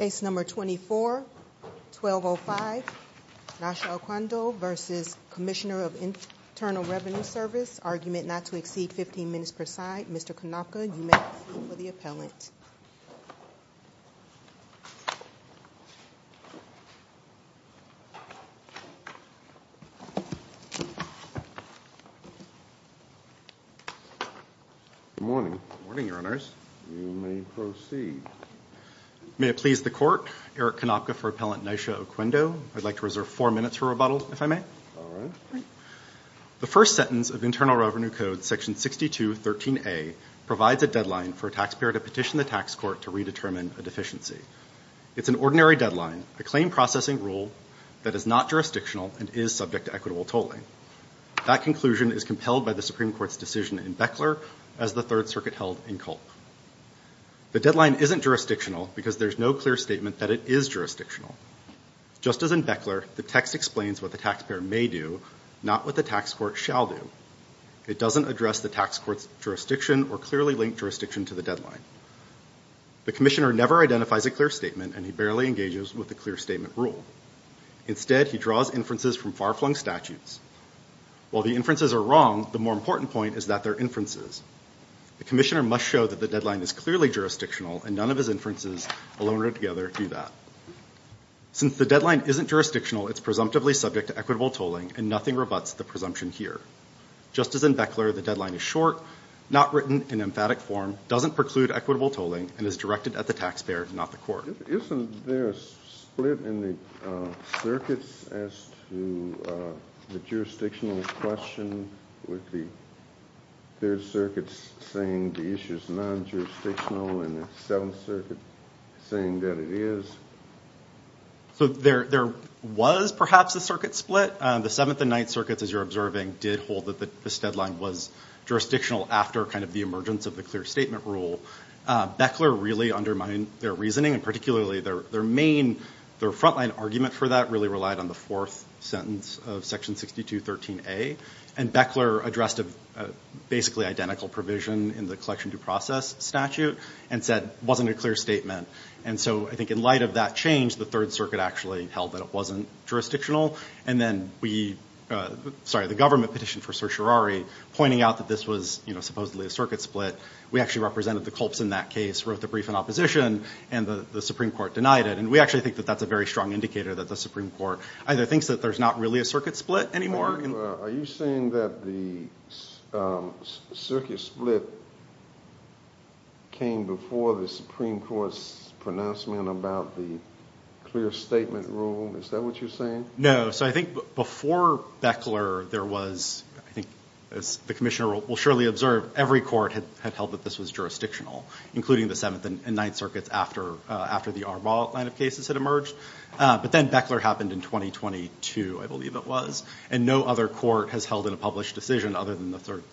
ACE Number 24-1205 Naysha Oquendo v. Commissioner of Internal Revenue Service Argument not to exceed 15 minutes per side. Mr. Konopka, you may call for the appellant. Good morning. Good morning, Your Honors. You may proceed. May it please the Court, Eric Konopka for appellant Naysha Oquendo. I'd like to reserve four minutes for rebuttal, if I may. All right. Great. The first sentence of Internal Revenue Code, Section 62-13a, provides a deadline for a taxpayer to petition the tax court to redetermine a deficiency. It's an ordinary deadline, a claim processing rule that is not jurisdictional and is subject to equitable tolling. That conclusion is compelled by the Supreme Court's decision in Beckler as the Third Circuit held in Culp. The deadline isn't jurisdictional because there's no clear statement that it is jurisdictional. Just as in Beckler, the text explains what the taxpayer may do, not what the tax court shall do. It doesn't address the tax court's jurisdiction or clearly linked jurisdiction to the deadline. The commissioner never identifies a clear statement and he barely engages with the clear statement rule. Instead, he draws inferences from far-flung statutes. While the inferences are wrong, the more important point is that they're inferences. The commissioner must show that the deadline is clearly jurisdictional and none of his inferences, alone or together, do that. Since the deadline isn't jurisdictional, it's presumptively subject to equitable tolling and nothing rebutts the presumption here. Just as in Beckler, the deadline is short, not written in emphatic form, doesn't preclude equitable tolling, and is directed at the taxpayer, not the court. Isn't there a split in the circuits as to the jurisdictional question with the third circuit saying the issue is non-jurisdictional and the Seventh Circuit saying that it is? So there was perhaps a circuit split. The Seventh and Ninth Circuits, as you're observing, did hold that this deadline was jurisdictional after kind of the emergence of the clear statement rule. Beckler really undermined their reasoning, and particularly their main, their front-line argument for that really relied on the fourth sentence of Section 6213A. And Beckler addressed basically identical provision in the collection due process statute and said it wasn't a clear statement. And so I think in light of that change, the Third Circuit actually held that it wasn't jurisdictional. And then we, sorry, the government petitioned for certiorari pointing out that this was, you know, supposedly a circuit split. We actually represented the culps in that case, wrote the brief in opposition, and the Supreme Court denied it. And we actually think that that's a very strong indicator that the Supreme Court either thinks that there's not really a circuit split anymore. Are you saying that the circuit split came before the Supreme Court's pronouncement about the clear statement rule? Is that what you're saying? No. So I think before Beckler there was, I think as the Commissioner will surely observe, every court had held that this was jurisdictional, including the Seventh and Ninth Circuits after the Arbaugh line of cases had emerged. But then Beckler happened in 2022, I believe it was, and no other court has held in a published decision other than the Third,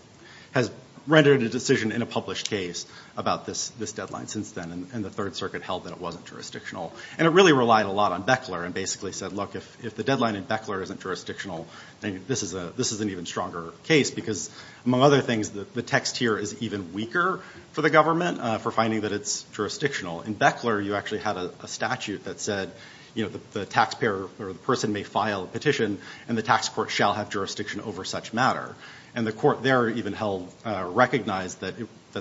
has rendered a decision in a published case about this deadline since then. And the Third Circuit held that it wasn't jurisdictional. And it really relied a lot on Beckler and basically said, look, if the deadline in Beckler isn't jurisdictional, this is an even stronger case because, among other things, the text here is even weaker for the government for finding that it's jurisdictional. In Beckler you actually had a statute that said, you know, the taxpayer or the person may file a petition and the tax court shall have jurisdiction over such matter. And the court there even held, recognized that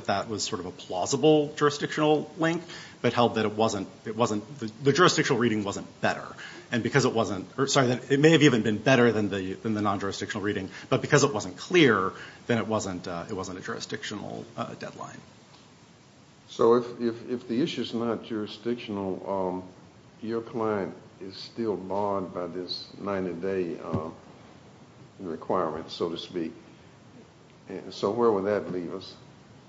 that was sort of a plausible jurisdictional link, but held that it wasn't, the jurisdictional reading wasn't better. And because it wasn't, or sorry, it may have even been better than the non-jurisdictional reading, but because it wasn't clear, then it wasn't a jurisdictional deadline. So if the issue is not jurisdictional, your client is still barred by this 90-day requirement, so to speak. So where would that leave us?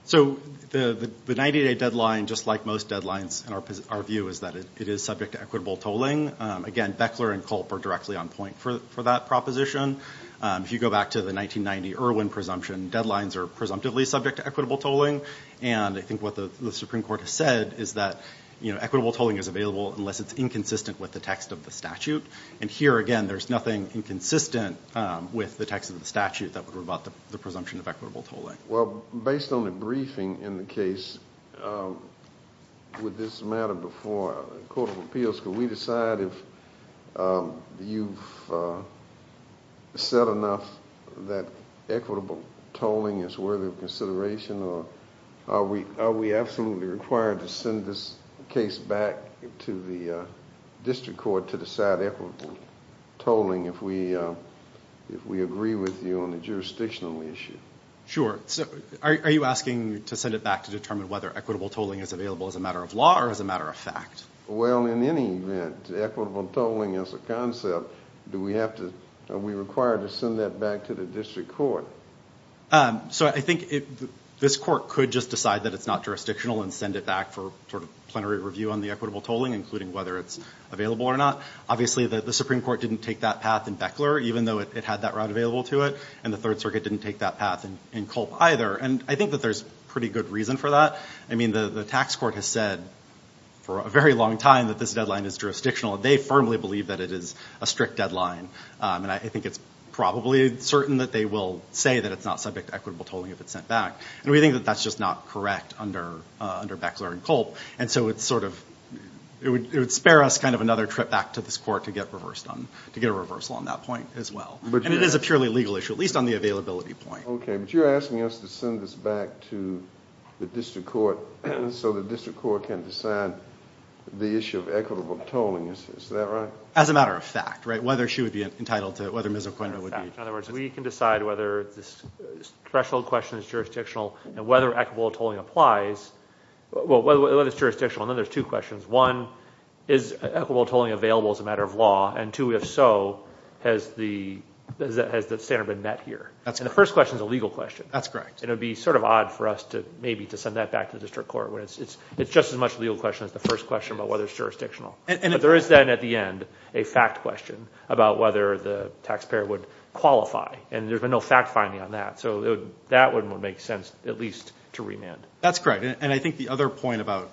So the 90-day deadline, just like most deadlines in our view, is that it is subject to equitable tolling. Again, Beckler and Culp are directly on point for that proposition. If you go back to the 1990 Irwin presumption, deadlines are presumptively subject to equitable tolling. And I think what the Supreme Court has said is that, you know, equitable tolling is available unless it's inconsistent with the text of the statute. And here, again, there's nothing inconsistent with the text of the statute that would rebut the presumption of equitable tolling. Well, based on the briefing in the case with this matter before the Court of Appeals, could we decide if you've said enough that equitable tolling is worthy of consideration or are we absolutely required to send this case back to the district court to decide equitable tolling if we agree with you on the jurisdictional issue? Sure. So are you asking to send it back to determine whether equitable tolling is available as a matter of law or as a matter of fact? Well, in any event, equitable tolling as a concept, are we required to send that back to the district court? So I think this court could just decide that it's not jurisdictional and send it back for sort of plenary review on the equitable tolling, including whether it's available or not. Obviously, the Supreme Court didn't take that path in Beckler, even though it had that route available to it, and the Third Circuit didn't take that path in Culp either. And I think that there's pretty good reason for that. I mean, the tax court has said for a very long time that this deadline is jurisdictional. They firmly believe that it is a strict deadline. And I think it's probably certain that they will say that it's not subject to equitable tolling if it's sent back. And we think that that's just not correct under Beckler and Culp. And so it would spare us kind of another trip back to this court to get a reversal on that point as well. And it is a purely legal issue, at least on the availability point. Okay. But you're asking us to send this back to the district court so the district court can decide the issue of equitable tolling. Is that right? As a matter of fact, right? Whether she would be entitled to it, whether Ms. O'Connor would be. In other words, we can decide whether this threshold question is jurisdictional and whether equitable tolling applies, well, whether it's jurisdictional. And then there's two questions. One, is equitable tolling available as a matter of law? And two, if so, has the standard been met here? And the first question is a legal question. That's correct. And it would be sort of odd for us to maybe to send that back to the district court. It's just as much a legal question as the first question about whether it's jurisdictional. But there is then at the end a fact question about whether the taxpayer would qualify. And there's been no fact finding on that. So that would make sense at least to remand. That's correct. And I think the other point about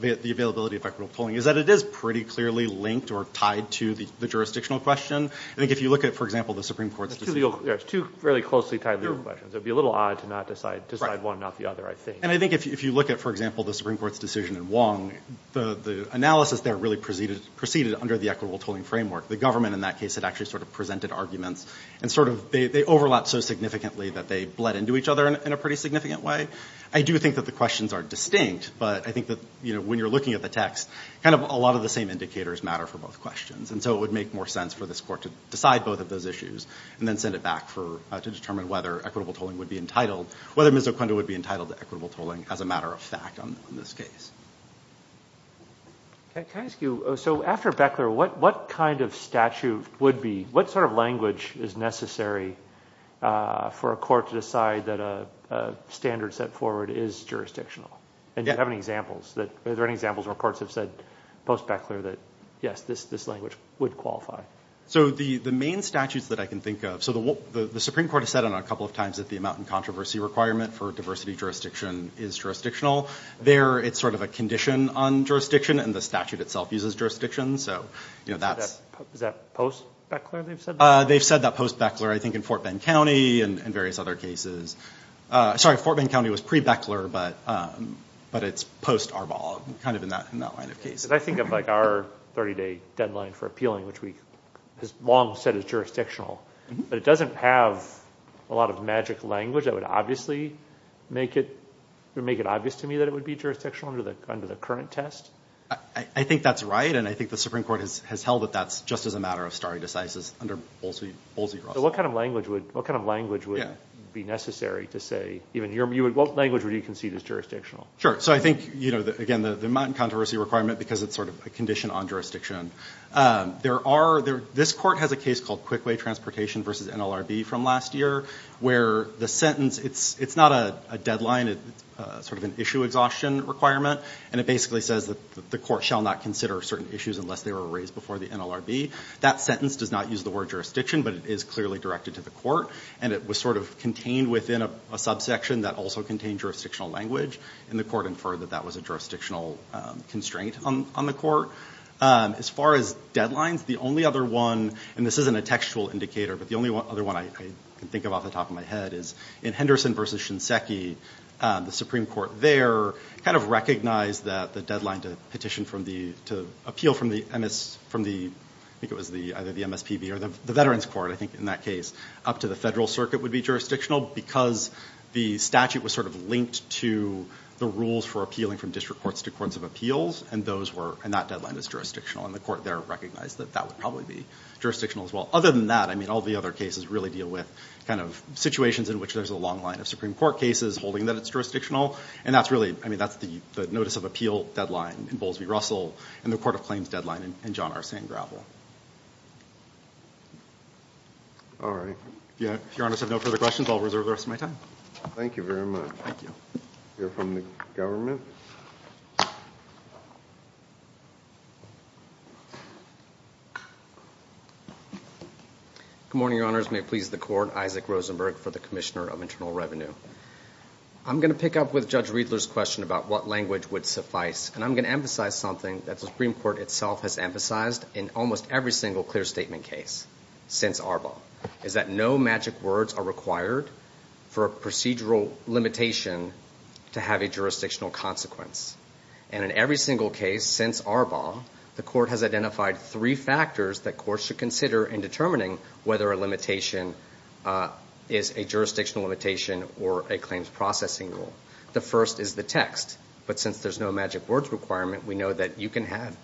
the availability of equitable tolling is that it is pretty clearly linked or tied to the jurisdictional question. I think if you look at, for example, the Supreme Court's decision. There's two fairly closely tied legal questions. It would be a little odd to not decide one, not the other, I think. And I think if you look at, for example, the Supreme Court's decision in Wong, the analysis there really proceeded under the equitable tolling framework. The government in that case had actually sort of presented arguments. And sort of they overlapped so significantly that they bled into each other in a pretty significant way. I do think that the questions are distinct. But I think that when you're looking at the text, kind of a lot of the same indicators matter for both questions. And so it would make more sense for this court to decide both of those issues and then send it back to determine whether equitable tolling would be entitled, whether Mizzoquinto would be entitled to equitable tolling as a matter of fact on this case. Can I ask you, so after Beckler, what kind of statute would be, what sort of language is necessary for a court to decide that a standard set forward is jurisdictional? And do you have any examples? Are there any examples where courts have said post-Beckler that, yes, this language would qualify? So the main statutes that I can think of, so the Supreme Court has said on it a couple of times that the amount and controversy requirement for diversity jurisdiction is jurisdictional. There, it's sort of a condition on jurisdiction, and the statute itself uses jurisdiction. So that's... Is that post-Beckler they've said? They've said that post-Beckler, I think, in Fort Bend County and various other cases. Sorry, Fort Bend County was pre-Beckler, but it's post-Arbaugh, kind of in that line of case. Because I think of like our 30-day deadline for appealing, which we have long said is jurisdictional, but it doesn't have a lot of magic language that would obviously make it obvious to me that it would be jurisdictional under the current test? I think that's right, and I think the Supreme Court has held that that's just as a matter of stare decisis under Bolsey-Ross. So what kind of language would be necessary to say even here? What language would you concede is jurisdictional? Sure. So I think, you know, again, the amount and controversy requirement because it's sort of a condition on jurisdiction. There are... This court has a case called Quickway Transportation v. NLRB from last year where the sentence, it's not a deadline. It's sort of an issue exhaustion requirement, and it basically says that the court shall not consider certain issues unless they were raised before the NLRB. That sentence does not use the word jurisdiction, but it is clearly directed to the court, and it was sort of contained within a subsection that also contained jurisdictional language, and the court inferred that that was a jurisdictional constraint on the court. As far as deadlines, the only other one, and this isn't a textual indicator, but the only one, Anderson v. Shinseki, the Supreme Court there kind of recognized that the deadline to petition from the... To appeal from the MS... From the... I think it was either the MSPB or the Veterans Court, I think, in that case, up to the Federal Circuit would be jurisdictional because the statute was sort of linked to the rules for appealing from district courts to courts of appeals, and those were... And that deadline is jurisdictional, and the court there recognized that that would probably be jurisdictional as well. Other than that, I mean, all the other cases really deal with kind of situations in which there's a long line of Supreme Court cases holding that it's jurisdictional, and that's really... I mean, that's the Notice of Appeal deadline in Bowles v. Russell and the Court of Claims deadline in John R. Sandgravel. All right. If Your Honors have no further questions, I'll reserve the rest of my time. Thank you very much. Thank you. We'll hear from the government. Good morning, Your Honors. Your Honors, may it please the Court, Isaac Rosenberg for the Commissioner of Internal Revenue. I'm going to pick up with Judge Riedler's question about what language would suffice, and I'm going to emphasize something that the Supreme Court itself has emphasized in almost every single clear statement case since Arbaugh, is that no magic words are required for a procedural limitation to have a jurisdictional consequence. And in every single case since Arbaugh, the Court has identified three factors that courts should consider in determining whether a limitation is a jurisdictional limitation or a claims processing rule. The first is the text. But since there's no magic words requirement, we know that you can have,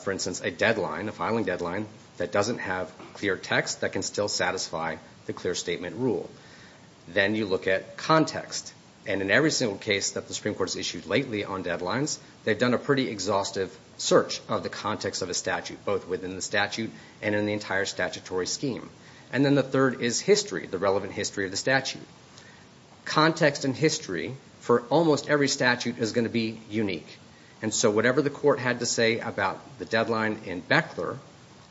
for instance, a deadline, a filing deadline, that doesn't have clear text that can still satisfy the clear statement rule. Then you look at context. And in every single case that the Supreme Court has issued lately on deadlines, they've done a pretty exhaustive search of the context of a statute, both within the statute and in the entire statutory scheme. And then the third is history, the relevant history of the statute. Context and history for almost every statute is going to be unique. And so whatever the Court had to say about the deadline in Beckler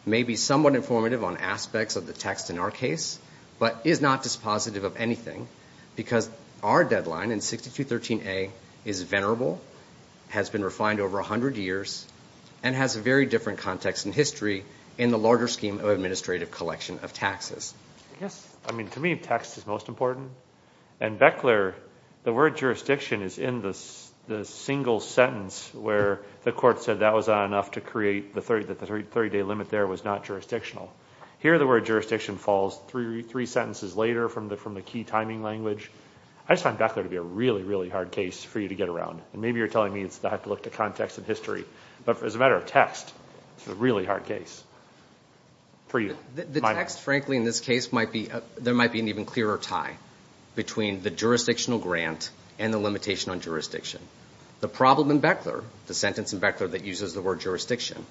may be somewhat informative on aspects of the text in our case, but is not dispositive of anything because our deadline in 6213A is venerable, has been refined over 100 years, and has a very different context in history in the larger scheme of administrative collection of taxes. Yes. I mean, to me, text is most important. And Beckler, the word jurisdiction is in the single sentence where the Court said that was not enough to create the 30-day limit there was not jurisdictional. Here the word jurisdiction falls three sentences later from the key timing language. I just find Beckler to be a really, really hard case for you to get around. And maybe you're telling me I have to look to context and history. But as a matter of text, it's a really hard case for you. The text, frankly, in this case, there might be an even clearer tie between the jurisdictional grant and the limitation on jurisdiction. The problem in Beckler, the sentence in Beckler that uses the word jurisdiction,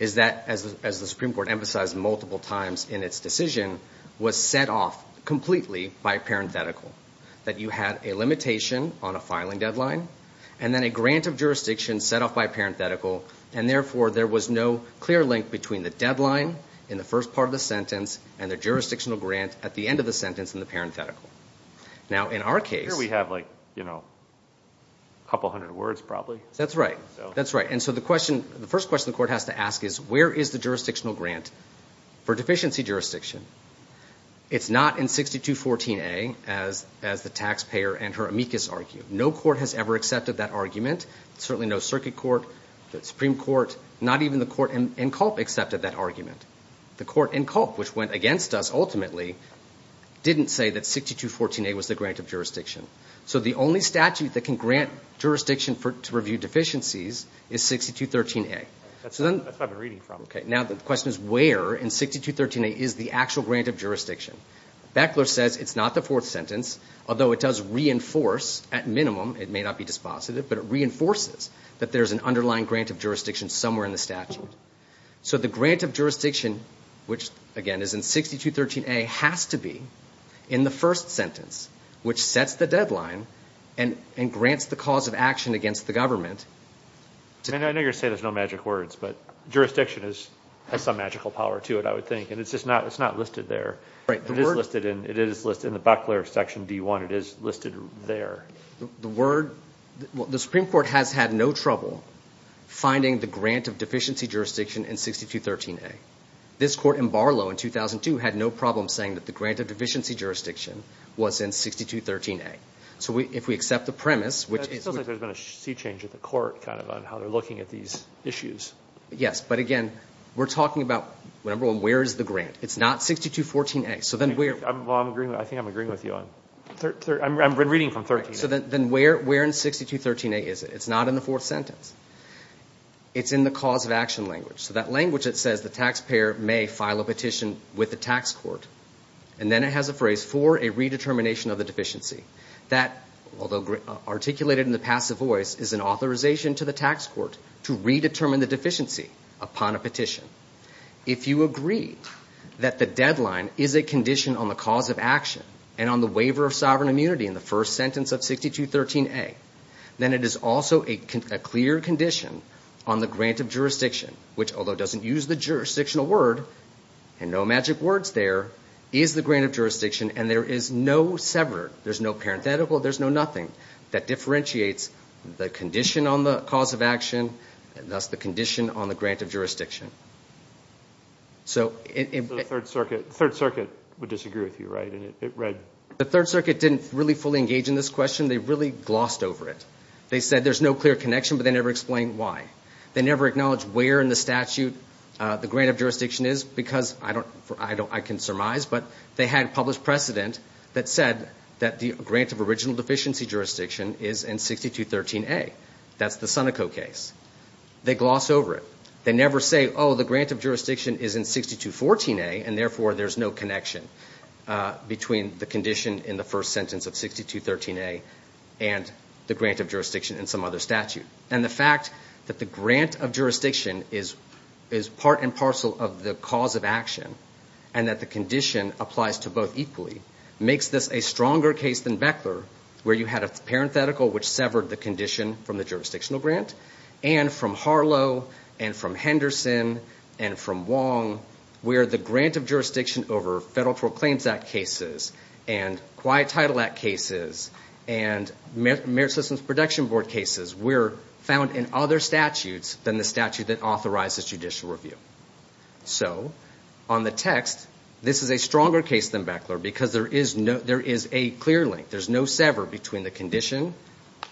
is that, as the Supreme Court emphasized multiple times in its decision, was set off completely by parenthetical, that you had a limitation on a filing deadline, and then a grant of jurisdiction set off by parenthetical, and therefore there was no clear link between the deadline in the first part of the sentence and the jurisdictional grant at the end of the sentence in the parenthetical. Now, in our case... Here we have, like, you know, a couple hundred words probably. That's right. That's right. And so the question, the first question the court has to ask is, where is the jurisdictional grant for deficiency jurisdiction? It's not in 6214A, as the taxpayer and her amicus argue. No court has ever accepted that argument. Certainly no circuit court, the Supreme Court, not even the court in Culp accepted that argument. The court in Culp, which went against us, ultimately, didn't say that 6214A was the grant of jurisdiction. So the only statute that can grant jurisdiction to review deficiencies is 6213A. That's what I've been reading from. Okay. Now the question is, where in 6213A is the actual grant of jurisdiction? Beckler says it's not the fourth sentence, although it does reinforce, at minimum, it may not be dispositive, but it reinforces that there's an underlying grant of jurisdiction somewhere in the statute. So the grant of jurisdiction, which, again, is in 6213A, has to be in the first sentence, which sets the deadline and grants the cause of action against the government. I know you're going to say there's no magic words, but jurisdiction has some magical power to it, I would think, and it's just not listed there. It is listed in the Beckler section D1. It is listed there. The Supreme Court has had no trouble finding the grant of deficiency jurisdiction in 6213A. This court in Barlow in 2002 had no problem saying that the grant of deficiency jurisdiction was in 6213A. So if we accept the premise, which is... It feels like there's been a sea change at the court, kind of, on how they're looking at these issues. Yes. But, again, we're talking about, number one, where is the grant? It's not 6214A. So then where... I think I'm agreeing with you on... I'm reading from 6213A. So then where in 6213A is it? It's not in the fourth sentence. It's in the cause of action language. So that language that says the taxpayer may file a petition with the tax court, and then it has a phrase, for a redetermination of the deficiency. That, although articulated in the passive voice, is an authorization to the tax court to redetermine the deficiency upon a petition. If you agree that the deadline is a condition on the cause of action and on the waiver of sovereign immunity in the first sentence of 6213A, then it is also a clear condition on the grant of jurisdiction, which, although it doesn't use the jurisdictional word, and no magic words there, is the grant of jurisdiction, and there is no sever. There's no parenthetical. There's no nothing that differentiates the condition on the cause of action, and thus the condition on the grant of jurisdiction. So it... The Third Circuit would disagree with you, right? And it read... The Third Circuit didn't really fully engage in this question. They really glossed over it. They said there's no clear connection, but they never explained why. They never acknowledged where in the statute the grant of jurisdiction is, because I don't... I can surmise, but they had a published precedent that said that the grant of original deficiency jurisdiction is in 6213A. That's the Seneca case. They gloss over it. They never say, oh, the grant of jurisdiction is in 6214A, and therefore there's no connection between the condition in the first sentence of 6213A and the grant of jurisdiction in some other statute. And the fact that the grant of jurisdiction is part and parcel of the cause of action and that the condition applies to both equally makes this a stronger case than Beckler, where you had a parenthetical which severed the condition from the jurisdictional grant, and from Harlow and from Henderson and from Wong, where the grant of jurisdiction over Federal Tort Claims Act cases and Quiet Title Act cases and Merit Systems Protection Board cases were found in other statutes than the statute that authorizes judicial review. So on the text, this is a stronger case than Beckler because there is a clear link. There's no sever between the condition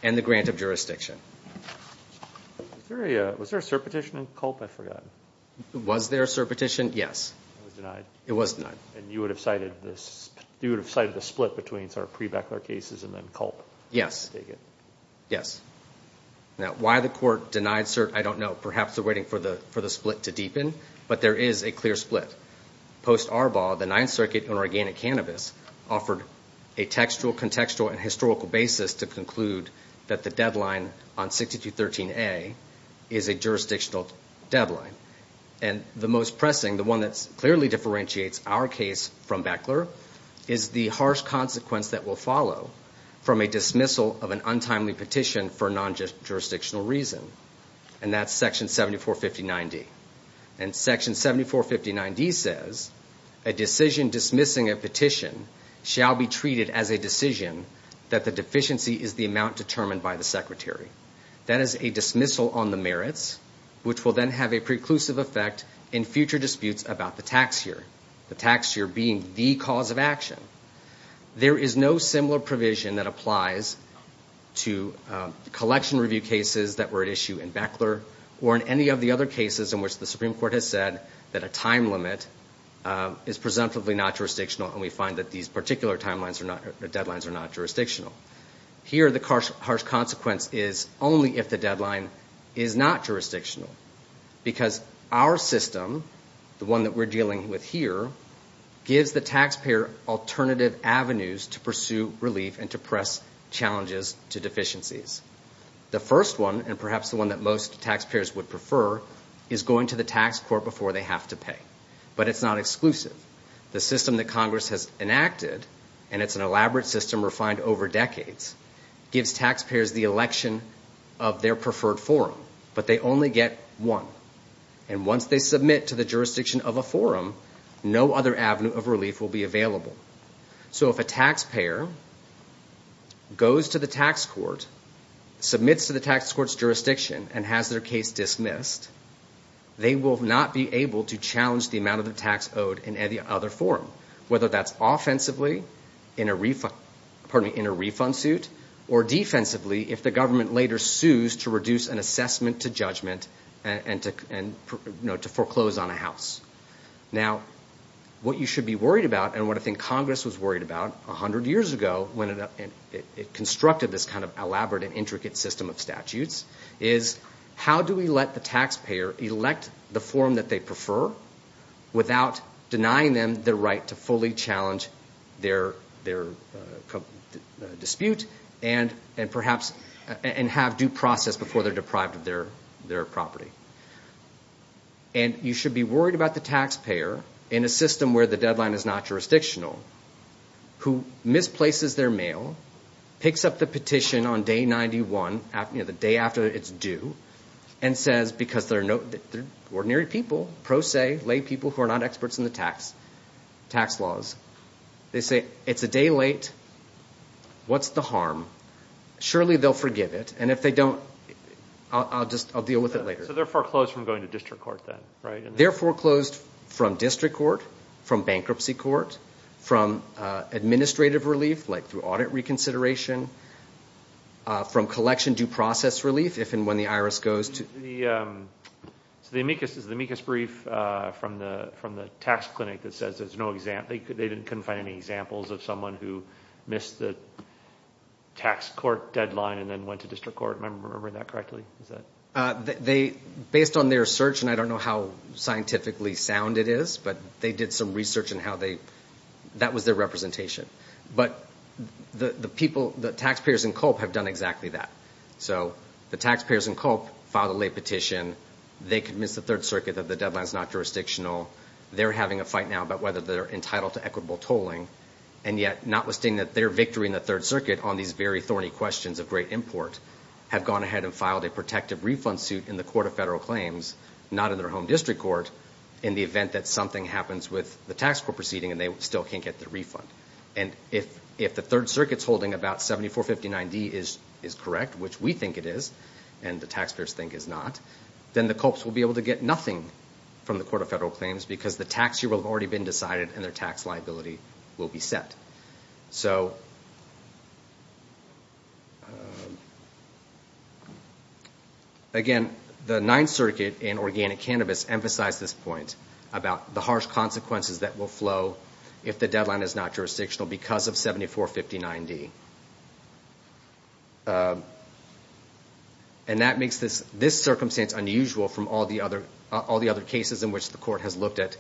and the grant of jurisdiction. Was there a surpetition in Culp? I forgot. Was there a surpetition? Yes. It was denied. It was denied. And you would have cited the split between some of the pre-Beckler cases and then Culp? Yes. Now why the court denied cert, I don't know. Perhaps they're waiting for the split to deepen, but there is a clear split. Post Arbaugh, the Ninth Circuit on organic cannabis offered a textual, contextual, and historical basis to conclude that the deadline on 6213A is a jurisdictional deadline. And the most pressing, the one that clearly differentiates our case from Beckler, is the harsh consequence that will follow from a dismissal of an untimely petition for a non-jurisdictional reason, and that's Section 7459D. And Section 7459D says, a decision dismissing a petition shall be treated as a decision that the deficiency is the amount determined by the Secretary. That is a dismissal on the merits, which will then have a preclusive effect in future disputes about the tax year, the tax year being the cause of action. There is no similar provision that applies to collection review cases that were at issue in Beckler or in any of the other cases in which the Supreme Court has said that a time limit is presumptively not jurisdictional, and we find that these particular deadlines are not jurisdictional. Here, the harsh consequence is only if the deadline is not jurisdictional, because our system, the one that we're dealing with here, gives the taxpayer alternative avenues to pursue relief and to press challenges to deficiencies. The first one, and perhaps the one that most taxpayers would prefer, is going to the tax court before they have to pay, but it's not exclusive. The system that Congress has enacted, and it's an elaborate system refined over decades, gives taxpayers the election of their preferred forum, but they only get one. And once they submit to the jurisdiction of a forum, no other avenue of relief will be available. So if a taxpayer goes to the tax court, submits to the tax court's jurisdiction, and has their case dismissed, they will not be able to challenge the amount of the tax owed in any other forum, whether that's offensively in a refund suit, or defensively if the government later sues to reduce an assessment to judgment and to foreclose on a house. Now, what you should be worried about, and what I think Congress was worried about 100 years ago when it constructed this kind of elaborate and intricate system of statutes, is how do we let the taxpayer elect the forum that they prefer without denying them the right to fully challenge their dispute and have due process before they're deprived of their property. And you should be worried about the taxpayer, in a system where the deadline is not jurisdictional, who misplaces their mail, picks up the petition on day 91, the day after it's due, and says, because they're ordinary people, pro se, lay people who are not experts in the tax laws, they say, it's a day late, what's the harm? Surely they'll forgive it. And if they don't, I'll deal with it later. They're foreclosed from district court, from bankruptcy court, from administrative relief, like through audit reconsideration, from collection due process relief, if and when the IRS goes to... So the amicus brief from the tax clinic that says there's no example, they couldn't find any examples of someone who missed the tax court deadline and then went to district court, am I remembering that correctly? They, based on their search, and I don't know how scientifically sound it is, but they did some research on how they, that was their representation. But the people, the taxpayers in Culp have done exactly that. So the taxpayers in Culp filed a late petition, they could miss the Third Circuit, the deadline's not jurisdictional, they're having a fight now about whether they're entitled to equitable tolling, and yet, notwithstanding that their victory in the Third Circuit on these very thorny questions of great import have gone ahead and filed a protective refund suit in the Court of Federal Claims, not in their home district court, in the event that something happens with the tax court proceeding and they still can't get the refund. And if the Third Circuit's holding about 7459D is correct, which we think it is, and the taxpayers think is not, then the Culps will be able to get nothing from the Court of Federal Claims because the tax year will have already been decided and their tax liability will be set. Again, the Ninth Circuit in Organic Cannabis emphasized this point about the harsh consequences that will flow if the deadline is not jurisdictional because of 7459D. And that makes this circumstance unusual from all the other cases in which the Court has looked at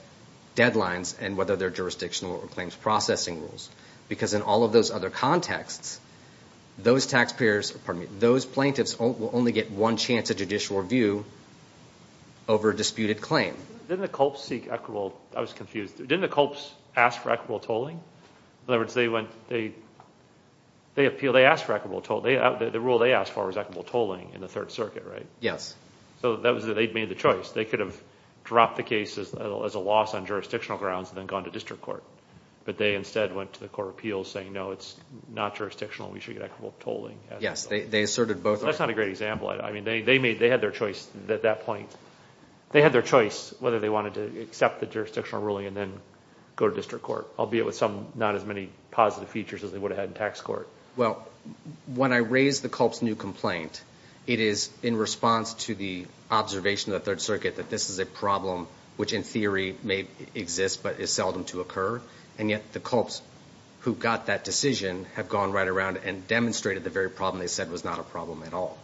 deadlines and whether they're jurisdictional or claims processing rules, because in all of those other contexts, those plaintiffs will only get one chance at judicial review over a disputed claim. Didn't the Culps ask for equitable tolling? In other words, they went to the Court of Federal Claims, they appealed, they asked for equitable tolling. The rule they asked for was equitable tolling in the Third Circuit, right? So that was that they'd made the choice. They could have dropped the case as a loss on jurisdictional grounds and then gone to district court, but they instead went to the Court of Appeals saying, no, it's not jurisdictional, we should get equitable tolling. That's not a great example. I mean, they had their choice at that point. They had their choice whether they wanted to accept the jurisdictional ruling and then go to district court, albeit with some, not as many positive features as they would have had in tax court. Well, when I raise the Culp's new complaint, it is in response to the observation of the Third Circuit that this is a problem which in theory may exist but is seldom to occur. And yet the Culps who got that decision have gone right around and demonstrated the very problem they said was not a problem at all.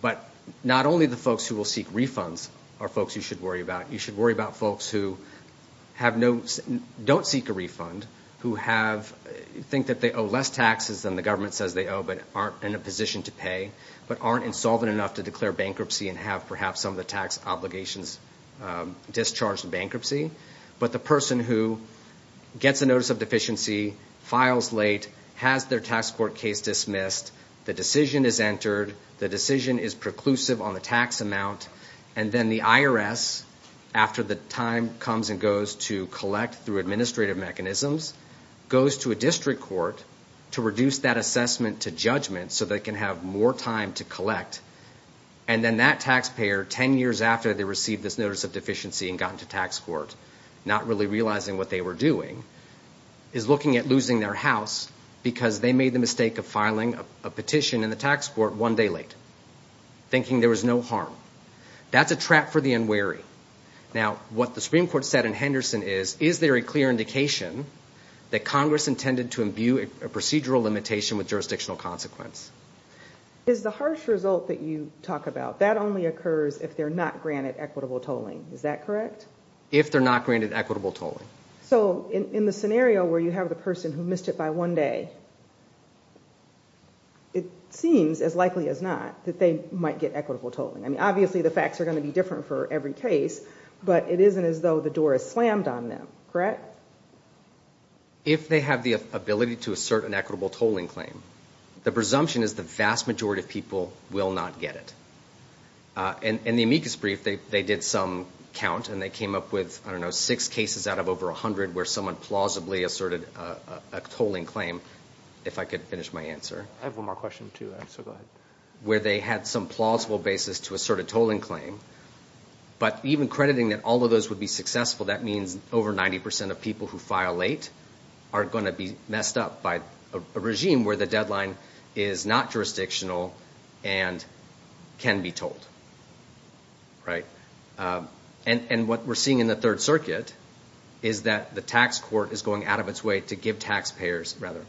But not only the folks who will seek refunds are folks you should worry about. You should worry about folks who have no, don't seek a refund, who have, think that they owe less taxes than the government says they owe but aren't in a position to pay, but aren't insolvent enough to declare bankruptcy and have perhaps some of the tax obligations discharged in bankruptcy. But the person who gets a notice of deficiency, files late, has their tax court case dismissed, the decision is entered, the decision is preclusive on the tax amount, and then the IRS, after the time comes and goes to collect through administrative mechanisms, goes to a district court to reduce that assessment to judgment so they can have more time to collect. And then that taxpayer, ten years after they received this notice of deficiency and got into tax court, not really realizing what they were doing, is looking at losing their house because they made the mistake of filing a petition in the tax court one day late, thinking there was no harm. That's a trap for the unwary. Now, what the Supreme Court said in Henderson is, is there a clear indication that Congress intended to imbue a procedural limitation with jurisdictional consequence? Is the harsh result that you talk about, that only occurs if they're not granted equitable tolling, is that correct? If they're not granted equitable tolling. So, in the scenario where you have the person who missed it by one day, it seems, as likely as not, that they might get equitable tolling. I mean, obviously the facts are going to be different for every case, but it isn't as though the door is slammed on them, correct? If they have the ability to assert an equitable tolling claim, the presumption is the vast majority of people will not get it. In the amicus brief, they did some count, and they came up with, I don't know, six cases out of over 100 where someone plausibly asserted a tolling claim. If I could finish my answer. Where they had some plausible basis to assert a tolling claim. But even crediting that all of those would be successful, that means over 90 percent of people who file late are going to be messed up by a regime where the deadline is not jurisdictional, and can be tolled. And what we're seeing in the Third Circuit is that the tax court is going out of its way to give taxpayers, rather.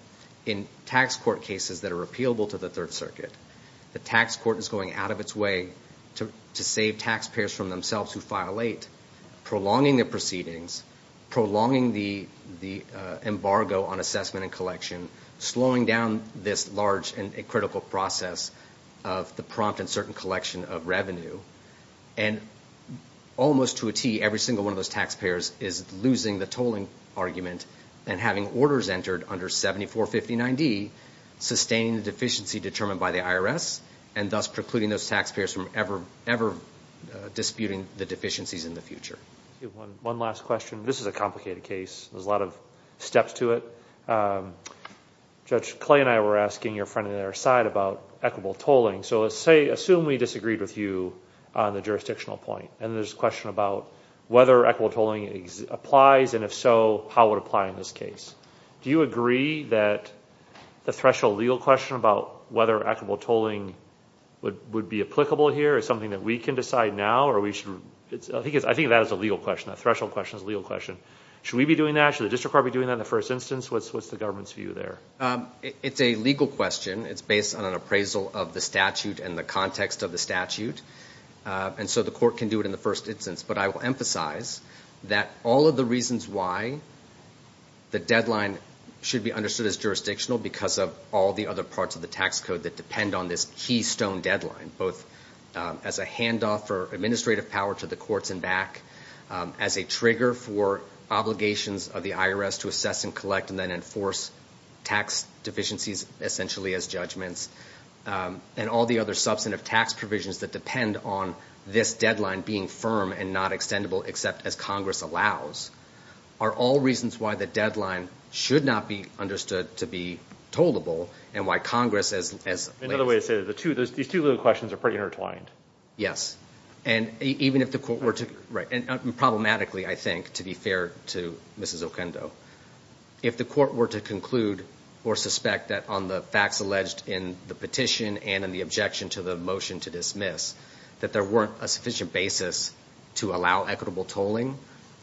In tax court cases that are repealable to the Third Circuit, the tax court is going out of its way to save taxpayers from themselves who file late, prolonging the proceedings, prolonging the embargo on assessment and collection, slowing down this large and critical process of the prompt and certain collection of revenue. And almost to a T, every single one of those taxpayers is losing the tolling argument and having orders entered under 7459D, sustaining the deficiency determined by the IRS, and thus precluding those taxpayers from ever disputing the deficiencies in the future. One last question. This is a complicated case. There's a lot of steps to it. Judge Clay and I were asking your friend on the other side about equitable tolling. So let's say, assume we disagreed with you on the jurisdictional point. And there's a question about whether equitable tolling applies, and if so, how it would apply in this case. Do you agree that the threshold legal question about whether equitable tolling would be applicable here is something that we can decide now, or we should, I think that is a legal question, that threshold question is a legal question. Should we be doing that? Should the district court be doing that in the first instance? What's the government's view there? It's a legal question. It's based on an appraisal of the statute and the context of the statute. And so the court can do it in the first instance. But I will emphasize that all of the reasons why the deadline should be understood as jurisdictional, because of all the other parts of the tax code that depend on this keystone deadline, both as a handoff for administrative power to the courts and back, as a trigger for obligations of the IRS to assess and collect and then enforce tax deficiencies essentially as judgments, and all the other substantive tax provisions that depend on this deadline being firm and not extendable, except as Congress allows, and why Congress, as late as... Another way to say it, these two legal questions are pretty intertwined. Yes. And even if the court were to, and problematically, I think, to be fair to Mrs. Okendo, if the court were to conclude or suspect that on the facts alleged in the petition and in the objection to the motion to dismiss, that there weren't a sufficient basis to allow equitable tolling,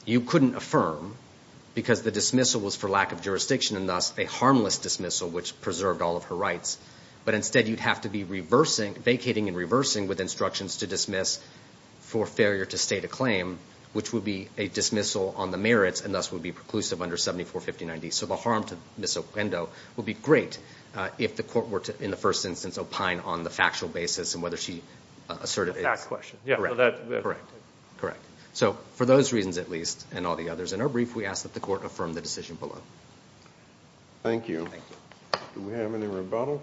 you couldn't affirm, because the dismissal was for lack of jurisdiction and thus a harmless dismissal, which preserved all of her rights. But instead you'd have to be vacating and reversing with instructions to dismiss for failure to state a claim, which would be a dismissal on the merits and thus would be preclusive under 7459D. So the harm to Mrs. Okendo would be great if the court were to, in the first instance, opine on the factual basis and whether she asserted it's correct. So for those reasons at least, and all the others in our brief, we ask that the court affirm the decision below. Thank you. Do we have any rebuttal?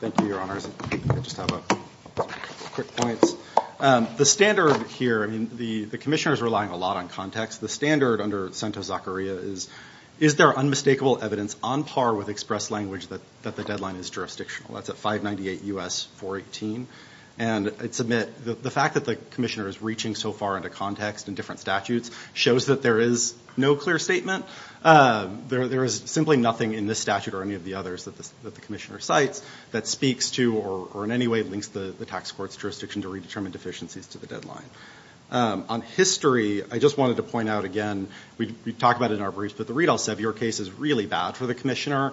Thank you, Your Honors. I just have a quick point. First of all, the standard here, the commissioner's relying a lot on context. The standard under Cento Zaccaria is, is there unmistakable evidence on par with expressed language that the deadline is jurisdictional? That's at 598 U.S. 418. And the fact that the commissioner is reaching so far into context in different statutes shows that there is no clear statement. There is simply nothing in this statute or any of the others that the commissioner cites that speaks to, or in any way links the tax court's jurisdiction to redetermine deficiencies to the deadline. On history, I just wanted to point out again, we talk about it in our briefs, but the Riedel-Sevier case is really bad for the commissioner.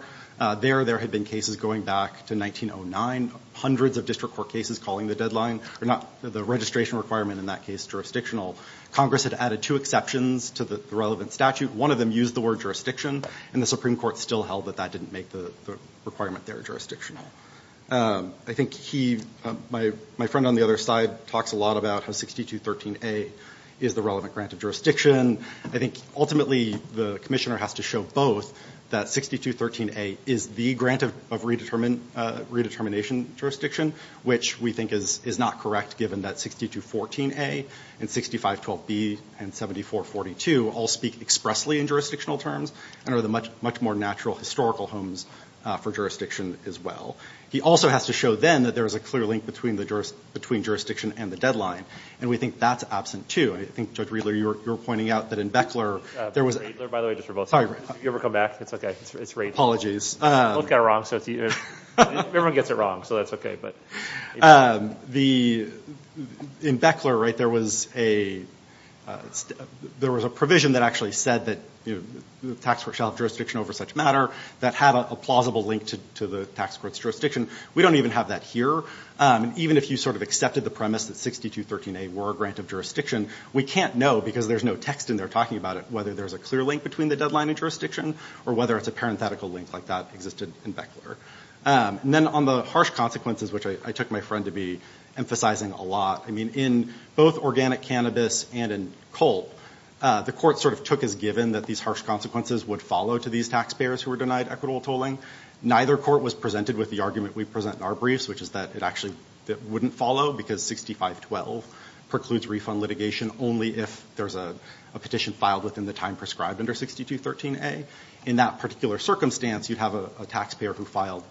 There, there had been cases going back to 1909, hundreds of district court cases calling the deadline, or not the registration requirement in that case jurisdictional. Congress had added two exceptions to the relevant statute. One of them used the word jurisdiction, and the Supreme Court still held that that didn't make the requirement there jurisdictional. I think he, my friend on the other side talks a lot about how 6213A is the relevant grant of jurisdiction. I think ultimately the commissioner has to show both, that 6213A is the grant of redetermination jurisdiction, which we think is not correct given that 6214A and 6512B and 7442 all speak express language. And are the much more natural historical homes for jurisdiction as well. He also has to show then that there is a clear link between jurisdiction and the deadline. And we think that's absent too. I think Judge Riedler, you were pointing out that in Beckler there was... Apologies. In Beckler there was a provision that actually said that the tax court shall have jurisdiction over such matter, that had a plausible link to the tax court's jurisdiction. We don't even have that here. Even if you sort of accepted the premise that 6213A were a grant of jurisdiction, we can't know because there's no text in there talking about it, whether there's a clear link between the deadline and jurisdiction, or whether it's a parenthetical link like that existed in Beckler. And then on the harsh consequences, which I took my friend to be emphasizing a lot. I mean, in both organic cannabis and in coal, the court sort of took as given that these harsh consequences would follow to these taxpayers who were denied equitable tolling. Neither court was presented with the argument we present in our briefs, which is that it actually wouldn't follow because 6512 precludes refund litigation only if there's a petition filed within the time prescribed under 6213A. In that particular circumstance, you'd have a taxpayer who filed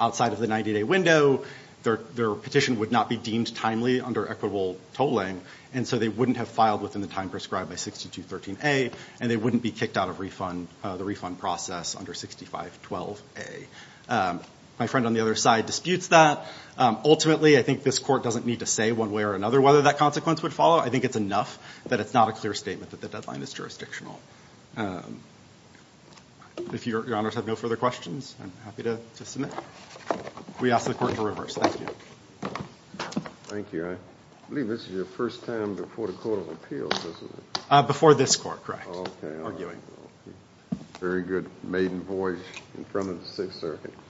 outside of the 90-day window. Their petition would not be deemed timely under equitable tolling, and so they wouldn't have filed within the time prescribed by 6213A, and they wouldn't be kicked out of the refund process under 6512A. My friend on the other side disputes that. Ultimately, I think this court doesn't need to say one way or another whether that consequence would follow. I think it's enough that it's not a clear statement that the deadline is jurisdictional. If your honors have no further questions, I'm happy to submit. We ask the court to reverse. Thank you.